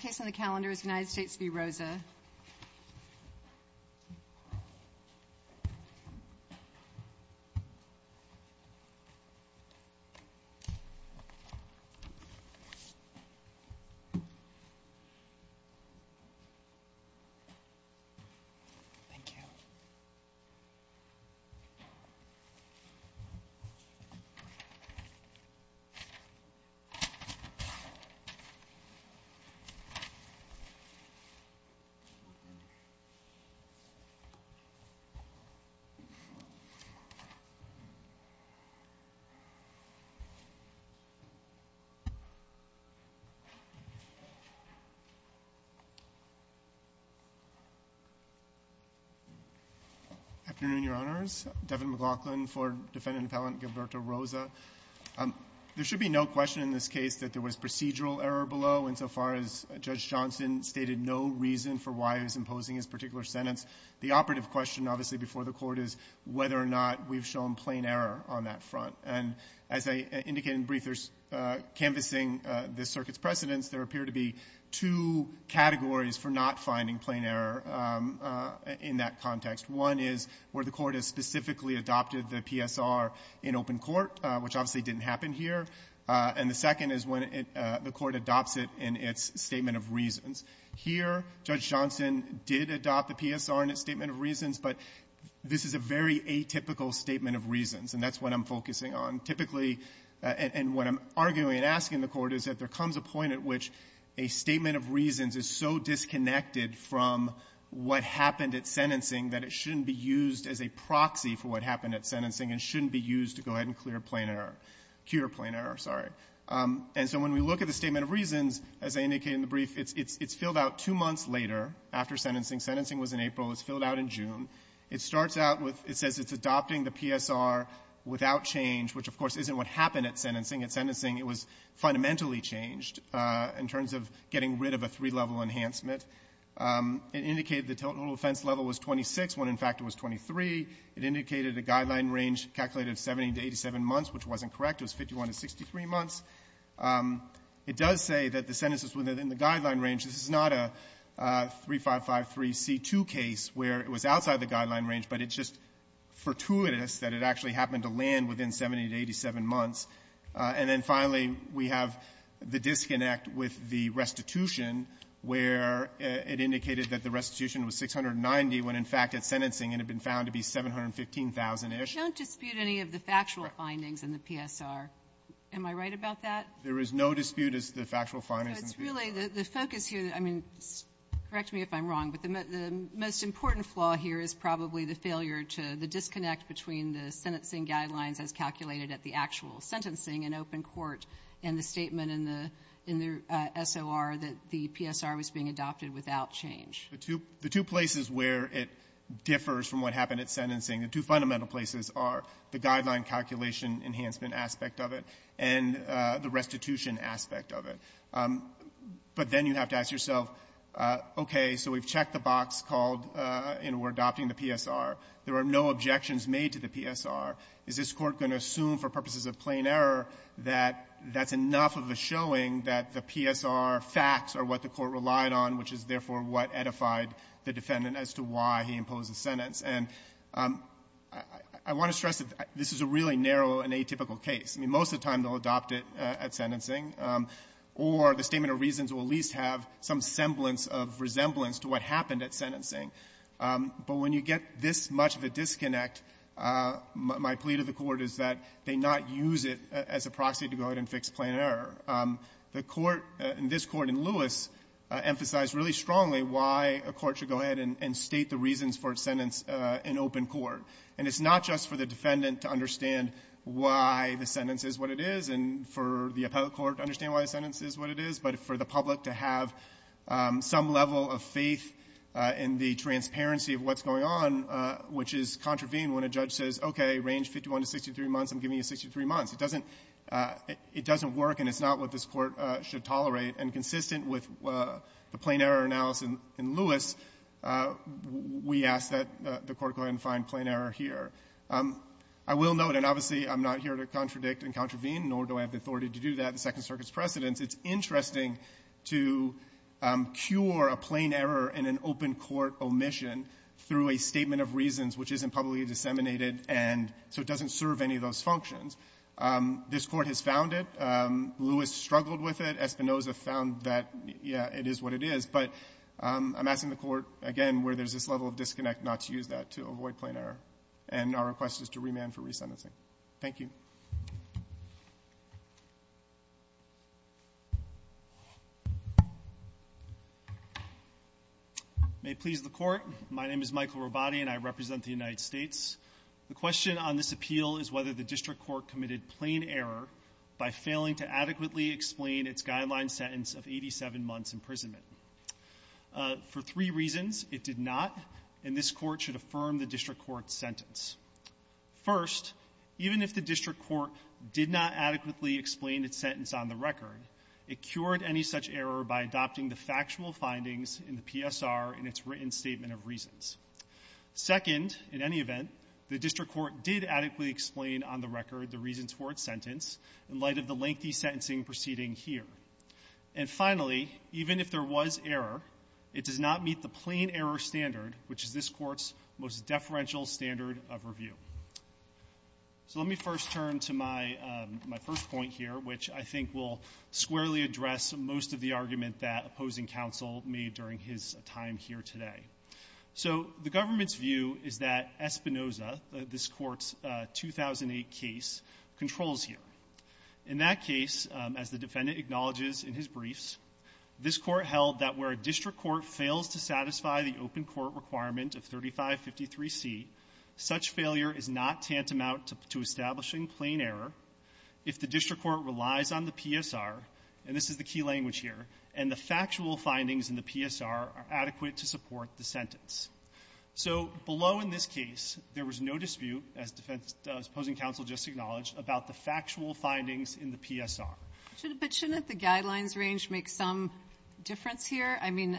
The last case on the calendar is the United States v. Rosa. There should be no question in this case that there was procedural error below insofar as Judge Johnson stated no reason for why he was imposing his particular sentence. The operative question, obviously, before the Court is whether or not we've shown plain error on that front. And as I indicated in the brief, there's – canvassing the circuit's precedents, there appear to be two categories for not finding plain error in that context. One is where the Court has specifically adopted the PSR in open court, which obviously didn't happen here. And the second is when it – the Court adopts it in its statement of reasons. Here, Judge Johnson did adopt the PSR in its statement of reasons, but this is a very atypical statement of reasons, and that's what I'm focusing on. Typically – and what I'm arguing and asking the Court is that there comes a point at which a statement of reasons is so disconnected from what happened at sentencing that it shouldn't be used as a proxy for what happened at sentencing and shouldn't be used to go ahead and clear plain error – cure plain error, sorry. And so when we look at the statement of reasons, as I indicated in the brief, it's filled out two months later after sentencing. Sentencing was in April. It's filled out in June. It starts out with – it says it's adopting the PSR without change, which, of course, isn't what happened at sentencing. At sentencing, it was fundamentally changed in terms of getting rid of a three-level enhancement. It indicated the total offense level was 26 when, in fact, it was 23. It indicated a guideline range calculated at 70 to 87 months, which wasn't correct. It was 51 to 63 months. It does say that the sentence was within the guideline range. This is not a 3553c2 case where it was outside the guideline range, but it's just fortuitous that it actually happened to land within 70 to 87 months. And then finally, we have the disconnect with the restitution where it indicated that the restitution was 690 when, in fact, at sentencing it had been found to be 715,000-ish. Don't dispute any of the factual findings in the PSR. Am I right about that? There is no dispute as to the factual findings. So it's really the focus here – I mean, correct me if I'm wrong, but the most important flaw here is probably the failure to – the disconnect between the sentencing guidelines as calculated at the actual sentencing in open court and the statement in the – in the SOR that the PSR was being adopted without change. The two – the two places where it differs from what happened at sentencing, the two fundamental places are the guideline calculation enhancement aspect of it and the restitution aspect of it. But then you have to ask yourself, okay, so we've checked the box called, and we're adopting the PSR. There are no objections made to the PSR. Is this Court going to assume for purposes of plain error that that's enough of a showing that the PSR facts are what the Court relied on, which is, therefore, what edified the defendant as to why he imposed the sentence? And I want to stress that this is a really narrow and atypical case. I mean, most of the time they'll adopt it at sentencing, or the statement of reasons will at least have some semblance of resemblance to what happened at sentencing. But when you get this much of a disconnect, my plea to the Court is that they not use it as a proxy to go ahead and fix plain error. The Court, this Court in Lewis, emphasized really strongly why a court should go ahead and state the reasons for its sentence in open court. And it's not just for the defendant to understand why the sentence is what it is and for the appellate court to understand why the sentence is what it is, but for the public to have some level of faith in the transparency of what's going on, which is contravened when a judge says, okay, range 51 to 63 months, I'm giving you 63 months. It doesn't work, and it's not what this Court should tolerate. And consistent with the plain error analysis in Lewis, we ask that the Court go ahead and find plain error here. I will note, and obviously I'm not here to contradict and contravene, nor do I have the authority to do that, the Second Circuit's precedents, it's interesting to cure a plain error in an open court omission through a statement of reasons which isn't publicly disseminated, and so it doesn't serve any of those functions. This Court has found it. Lewis struggled with it. Espinoza found that, yeah, it is what it is. But I'm asking the Court, again, where there's this level of disconnect, not to use that to avoid plain error. And our request is to remand for resentencing. Thank you. May it please the Court. My name is Michael Robati, and I represent the United States. The question on this appeal is whether the district court committed plain error by failing to adequately explain its guideline sentence of 87 months' imprisonment. For three reasons, it did not, and this court should affirm the district court's sentence. First, even if the district court did not adequately explain its sentence on the record, it cured any such error by adopting the factual findings in the PSR in its written statement of reasons. Second, in any event, the district court did adequately explain on the record the reasons for its sentence in light of the lengthy sentencing proceeding here. And finally, even if there was error, it does not meet the plain error standard, which is this court's most deferential standard of review. So let me first turn to my first point here, which I think will squarely address most of the argument that opposing counsel made during his time here today. So the government's view is that Espinoza, this court's 2008 case, controls here. In that case, as the defendant acknowledges in his briefs, this court held that where a district court fails to satisfy the open court requirement of 3553C, such failure is not tantamount to establishing plain error. If the district court relies on the PSR, and this is the key language here, and the factual findings in the PSR are adequate to support the sentence. So below in this case, there was no dispute, as opposing counsel just acknowledged, about the factual findings in the PSR. But shouldn't the guidelines range make some difference here? I mean,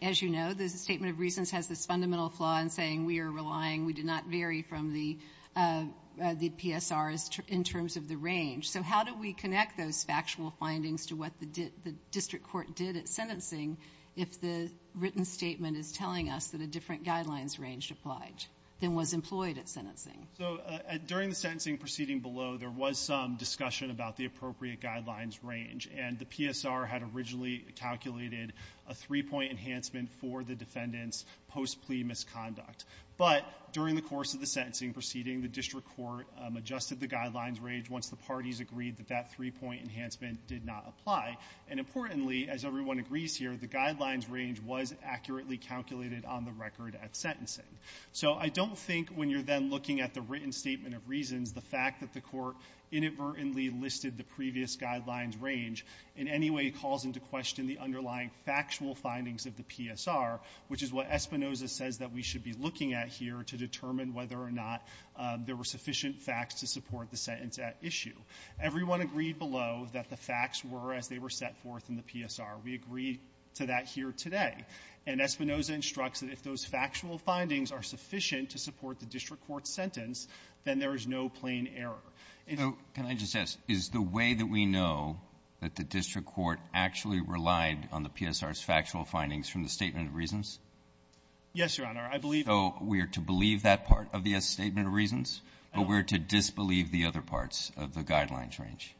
as you know, the statement of reasons has this fundamental flaw in saying we are relying, we did not vary from the PSR in terms of the range. So how do we connect those factual findings to what the district court did at sentencing if the written statement is telling us that a different guidelines range applied than was employed at sentencing? So during the sentencing proceeding below, there was some discussion about the appropriate guidelines range, and the PSR had originally calculated a three-point enhancement for the defendant's post-plea misconduct. But during the course of the sentencing proceeding, the district court adjusted the guidelines range once the parties agreed that that three-point enhancement did not apply. And importantly, as everyone agrees here, the guidelines range was accurately calculated on the record at sentencing. So I don't think when you're then looking at the written statement of reasons, the fact that the court inadvertently listed the previous guidelines range in any way calls into question the underlying factual findings of the PSR, which is what Espinoza says that we should be looking at here to determine whether or not there were sufficient facts to support the sentence at issue. Everyone agreed below that the facts were as they were set forth in the PSR. We agree to that here today. And Espinoza instructs that if those factual findings are sufficient to support the district court's sentence, then there is no plain error. And so can I just ask, is the way that we know that the district court actually relied on the PSR's factual findings from the statement of reasons? Yes, Your Honor, I believe so. So we are to believe that part of the statement of reasons, but we're to disbelieve the other parts of the guidelines range.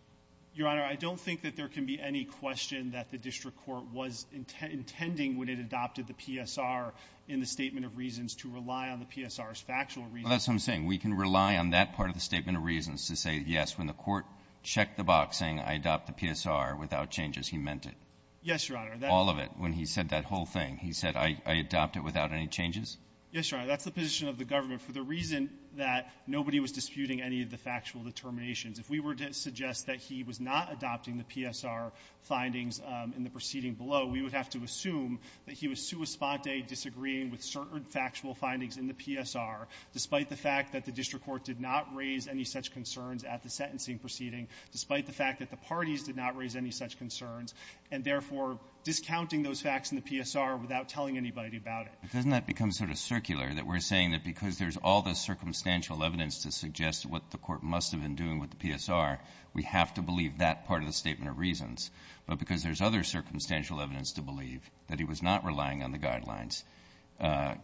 Your Honor, I don't think that there can be any question that the district court was intending when it adopted the PSR in the statement of reasons to rely on the PSR's factual reasons. Well, that's what I'm saying. We can rely on that part of the statement of reasons to say, yes, when the court checked the box saying I adopt the PSR without changes, he meant it. Yes, Your Honor. All of it. When he said that whole thing, he said I adopt it without any changes? Yes, Your Honor. That's the position of the government. For the reason that nobody was disputing any of the factual determinations, if we were to suggest that he was not adopting the PSR findings in the proceeding below, we would have to assume that he was sua sponte, disagreeing with certain factual findings in the PSR, despite the fact that the district court did not raise any such concerns at the sentencing proceeding, despite the fact that the parties did not raise any such concerns, and therefore discounting those facts in the PSR without telling anybody about it. But doesn't that become sort of circular, that we're saying that because there's all this circumstantial evidence to suggest what the court must have been doing with the PSR, we have to believe that part of the statement of reasons, but because there's other circumstantial evidence to believe that he was not relying on the guidelines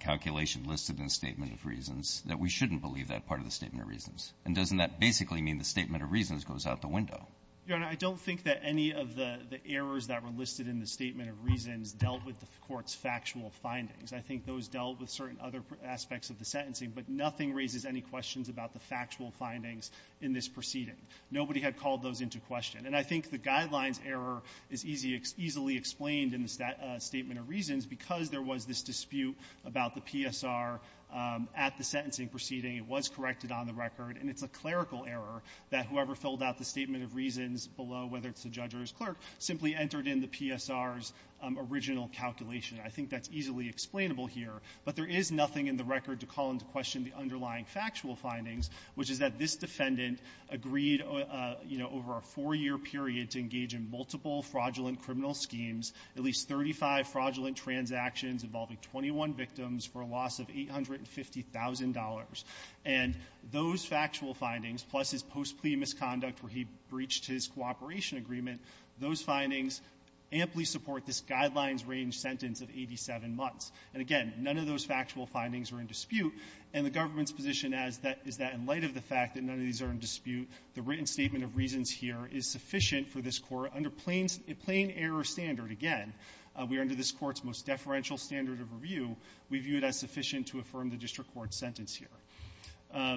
calculation listed in the statement of reasons, that we shouldn't believe that part of the statement of reasons. And doesn't that basically mean the statement of reasons goes out the window? Your Honor, I don't think that any of the errors that were listed in the statement of reasons dealt with the court's factual findings. I think those dealt with certain other aspects of the sentencing, but nothing raises any questions about the factual findings in this proceeding. Nobody had called those into question. And I think the guidelines error is easily explained in the statement of reasons because there was this dispute about the PSR at the sentencing proceeding. It was corrected on the record, and it's a clerical error that whoever filled out the statement of reasons below, whether it's the judge or his clerk, simply entered in the PSR's original calculation. I think that's easily explainable here. But there is nothing in the record to call into question the underlying factual findings, which is that this defendant agreed, you know, over a four-year period to engage in multiple fraudulent criminal schemes, at least 35 fraudulent transactions involving 21 victims for a loss of $850,000. And those factual findings, plus his post-plea misconduct where he breached his cooperation agreement, those findings amply support this guidelines-range sentence of 87 months. And, again, none of those factual findings are in dispute. And the government's position is that in light of the fact that none of these are in dispute, the written statement of reasons here is sufficient for this Court under plain error standard. Again, we are under this Court's most deferential standard of review. We view it as sufficient to affirm the district court's sentence here.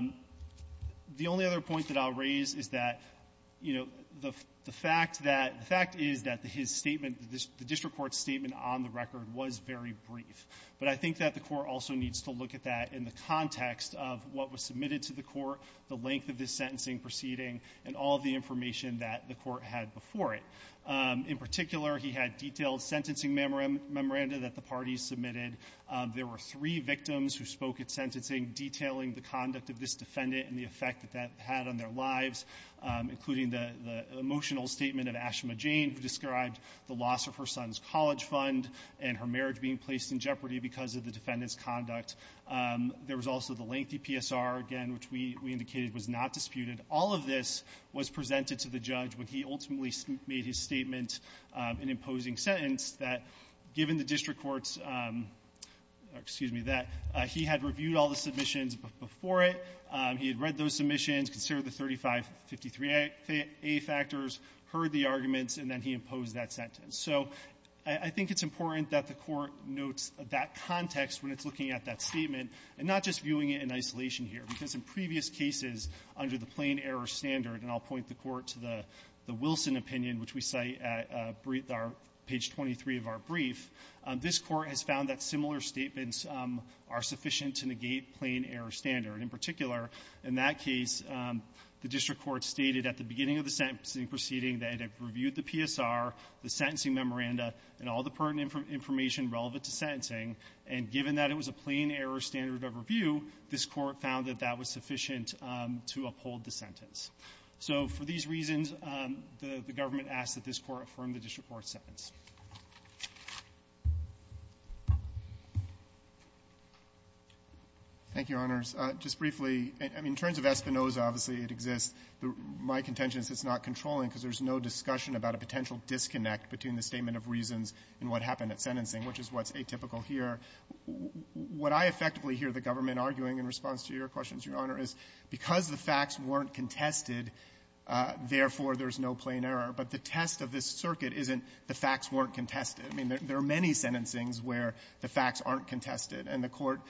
The only other point that I'll raise is that, you know, the fact that the fact is that his statement, the district court's statement on the record was very brief. But I think that the Court also needs to look at that in the context of what was submitted to the Court, the length of this sentencing proceeding, and all of the information that the Court had before it. In particular, he had detailed sentencing memoranda that the parties submitted. There were three victims who spoke at sentencing detailing the conduct of this defendant and the effect that that had on their lives, including the emotional statement of Ashama Jane, who described the loss of her son's college fund and her marriage being placed in jeopardy because of the defendant's conduct. There was also the lengthy PSR, again, which we indicated was not disputed. All of this was presented to the judge when he ultimately made his statement, an imposing sentence, that given the district court's — excuse me — that he had reviewed all the submissions before it. He had read those submissions, considered the 3553a factors, heard the evidence and the arguments, and then he imposed that sentence. So I think it's important that the Court notes that context when it's looking at that statement, and not just viewing it in isolation here, because in previous cases under the plain-error standard — and I'll point the Court to the Wilson opinion, which we cite at page 23 of our brief — this Court has found that similar statements are sufficient to negate plain-error standard. In particular, in that case, the district court stated at the beginning of the sentencing proceeding that it had reviewed the PSR, the sentencing memoranda, and all the pertinent information relevant to sentencing. And given that it was a plain-error standard of review, this Court found that that was sufficient to uphold the sentence. So for these reasons, the government asked that this Court affirm the district court's sentence. Thank you, Your Honors. Just briefly, in terms of Espinoza, obviously, it exists. My contention is it's not controlling because there's no discussion about a potential disconnect between the statement of reasons and what happened at sentencing, which is what's atypical here. What I effectively hear the government arguing in response to your questions, Your Honor, is because the facts weren't contested, therefore, there's no plain error. But the test of this circuit isn't the facts weren't contested. I mean, there are many sentencings where the facts aren't contested, and the Court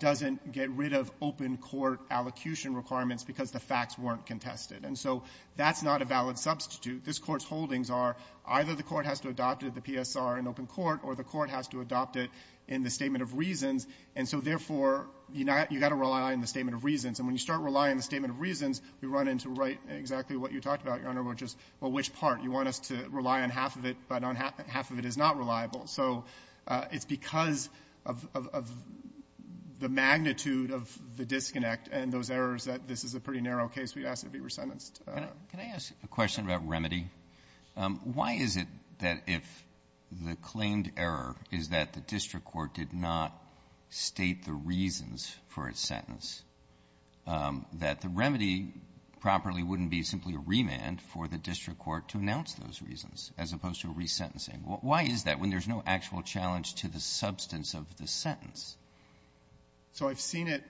doesn't get rid of open court allocution requirements because the facts weren't contested. And so that's not a valid substitute. This Court's holdings are either the court has to adopt it, the PSR, in open court, or the court has to adopt it in the statement of reasons. And so, therefore, you got to rely on the statement of reasons. And when you start relying on the statement of reasons, we run into exactly what you talked about, Your Honor, which is, well, which part? You want us to rely on half of it, but half of it is not reliable. So it's because of the magnitude of the disconnect and those errors that this is a pretty narrow case. We'd ask that it be resentenced. Can I ask a question about remedy? Why is it that if the claimed error is that the district court did not state the reasons for its sentence, that the remedy properly wouldn't be simply a remand for the district court to announce those reasons, as opposed to resentencing? Why is that when there's no actual challenge to the substance of the sentence? So I've seen it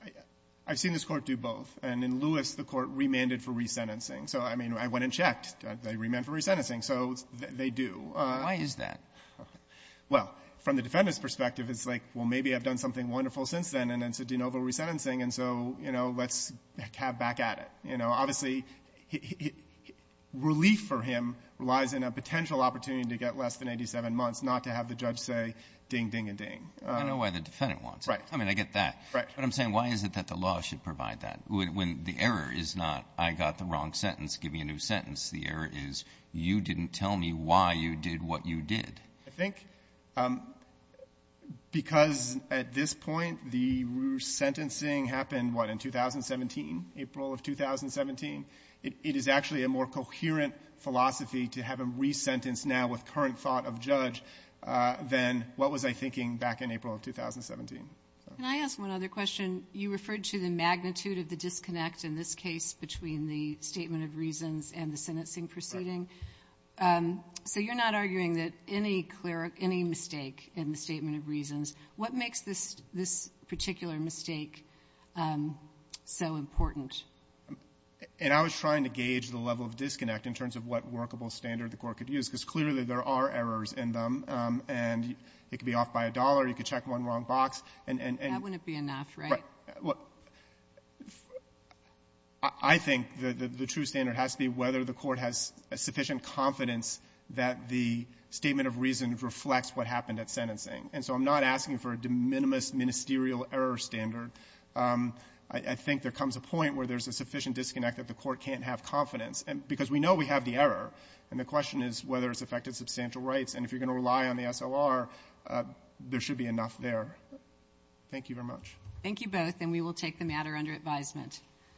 — I've seen this Court do both. And in Lewis, the Court remanded for resentencing. So, I mean, I went and checked. They remanded for resentencing. So they do. Why is that? Well, from the defendant's perspective, it's like, well, maybe I've done something wonderful since then, and it's a de novo resentencing, and so, you know, let's have back at it. You know, obviously, relief for him lies in a potential opportunity to get less than 87 months, not to have the judge say, ding, ding, and ding. I know why the defendant wants it. Right. I mean, I get that. Right. But I'm saying, why is it that the law should provide that, when the error is not, I got the wrong sentence, give me a new sentence? The error is, you didn't tell me why you did what you did. I think because at this point, the resentencing happened, what, in 2017, April of 2017, it is actually a more coherent philosophy to have a resentence now with current thought of judge than what was I thinking back in April of 2017. Can I ask one other question? You referred to the magnitude of the disconnect in this case between the statement of reasons and the sentencing proceeding. Right. So you're not arguing that any mistake in the statement of reasons, what makes this particular mistake so important? And I was trying to gauge the level of disconnect in terms of what workable standard the Court could use, because clearly there are errors in them. And it could be off by a dollar. You could check one wrong box. And — That wouldn't be enough, right? Well, I think that the true standard has to be whether the Court has a sufficient confidence that the statement of reason reflects what happened at sentencing, and so I'm not asking for a de minimis ministerial error standard. I think there comes a point where there's a sufficient disconnect that the Court can't have confidence, because we know we have the error, and the question is whether it's affected substantial rights. And if you're going to rely on the SOR, there should be enough there. Thank you very much. Thank you both, and we will take the matter under advisement.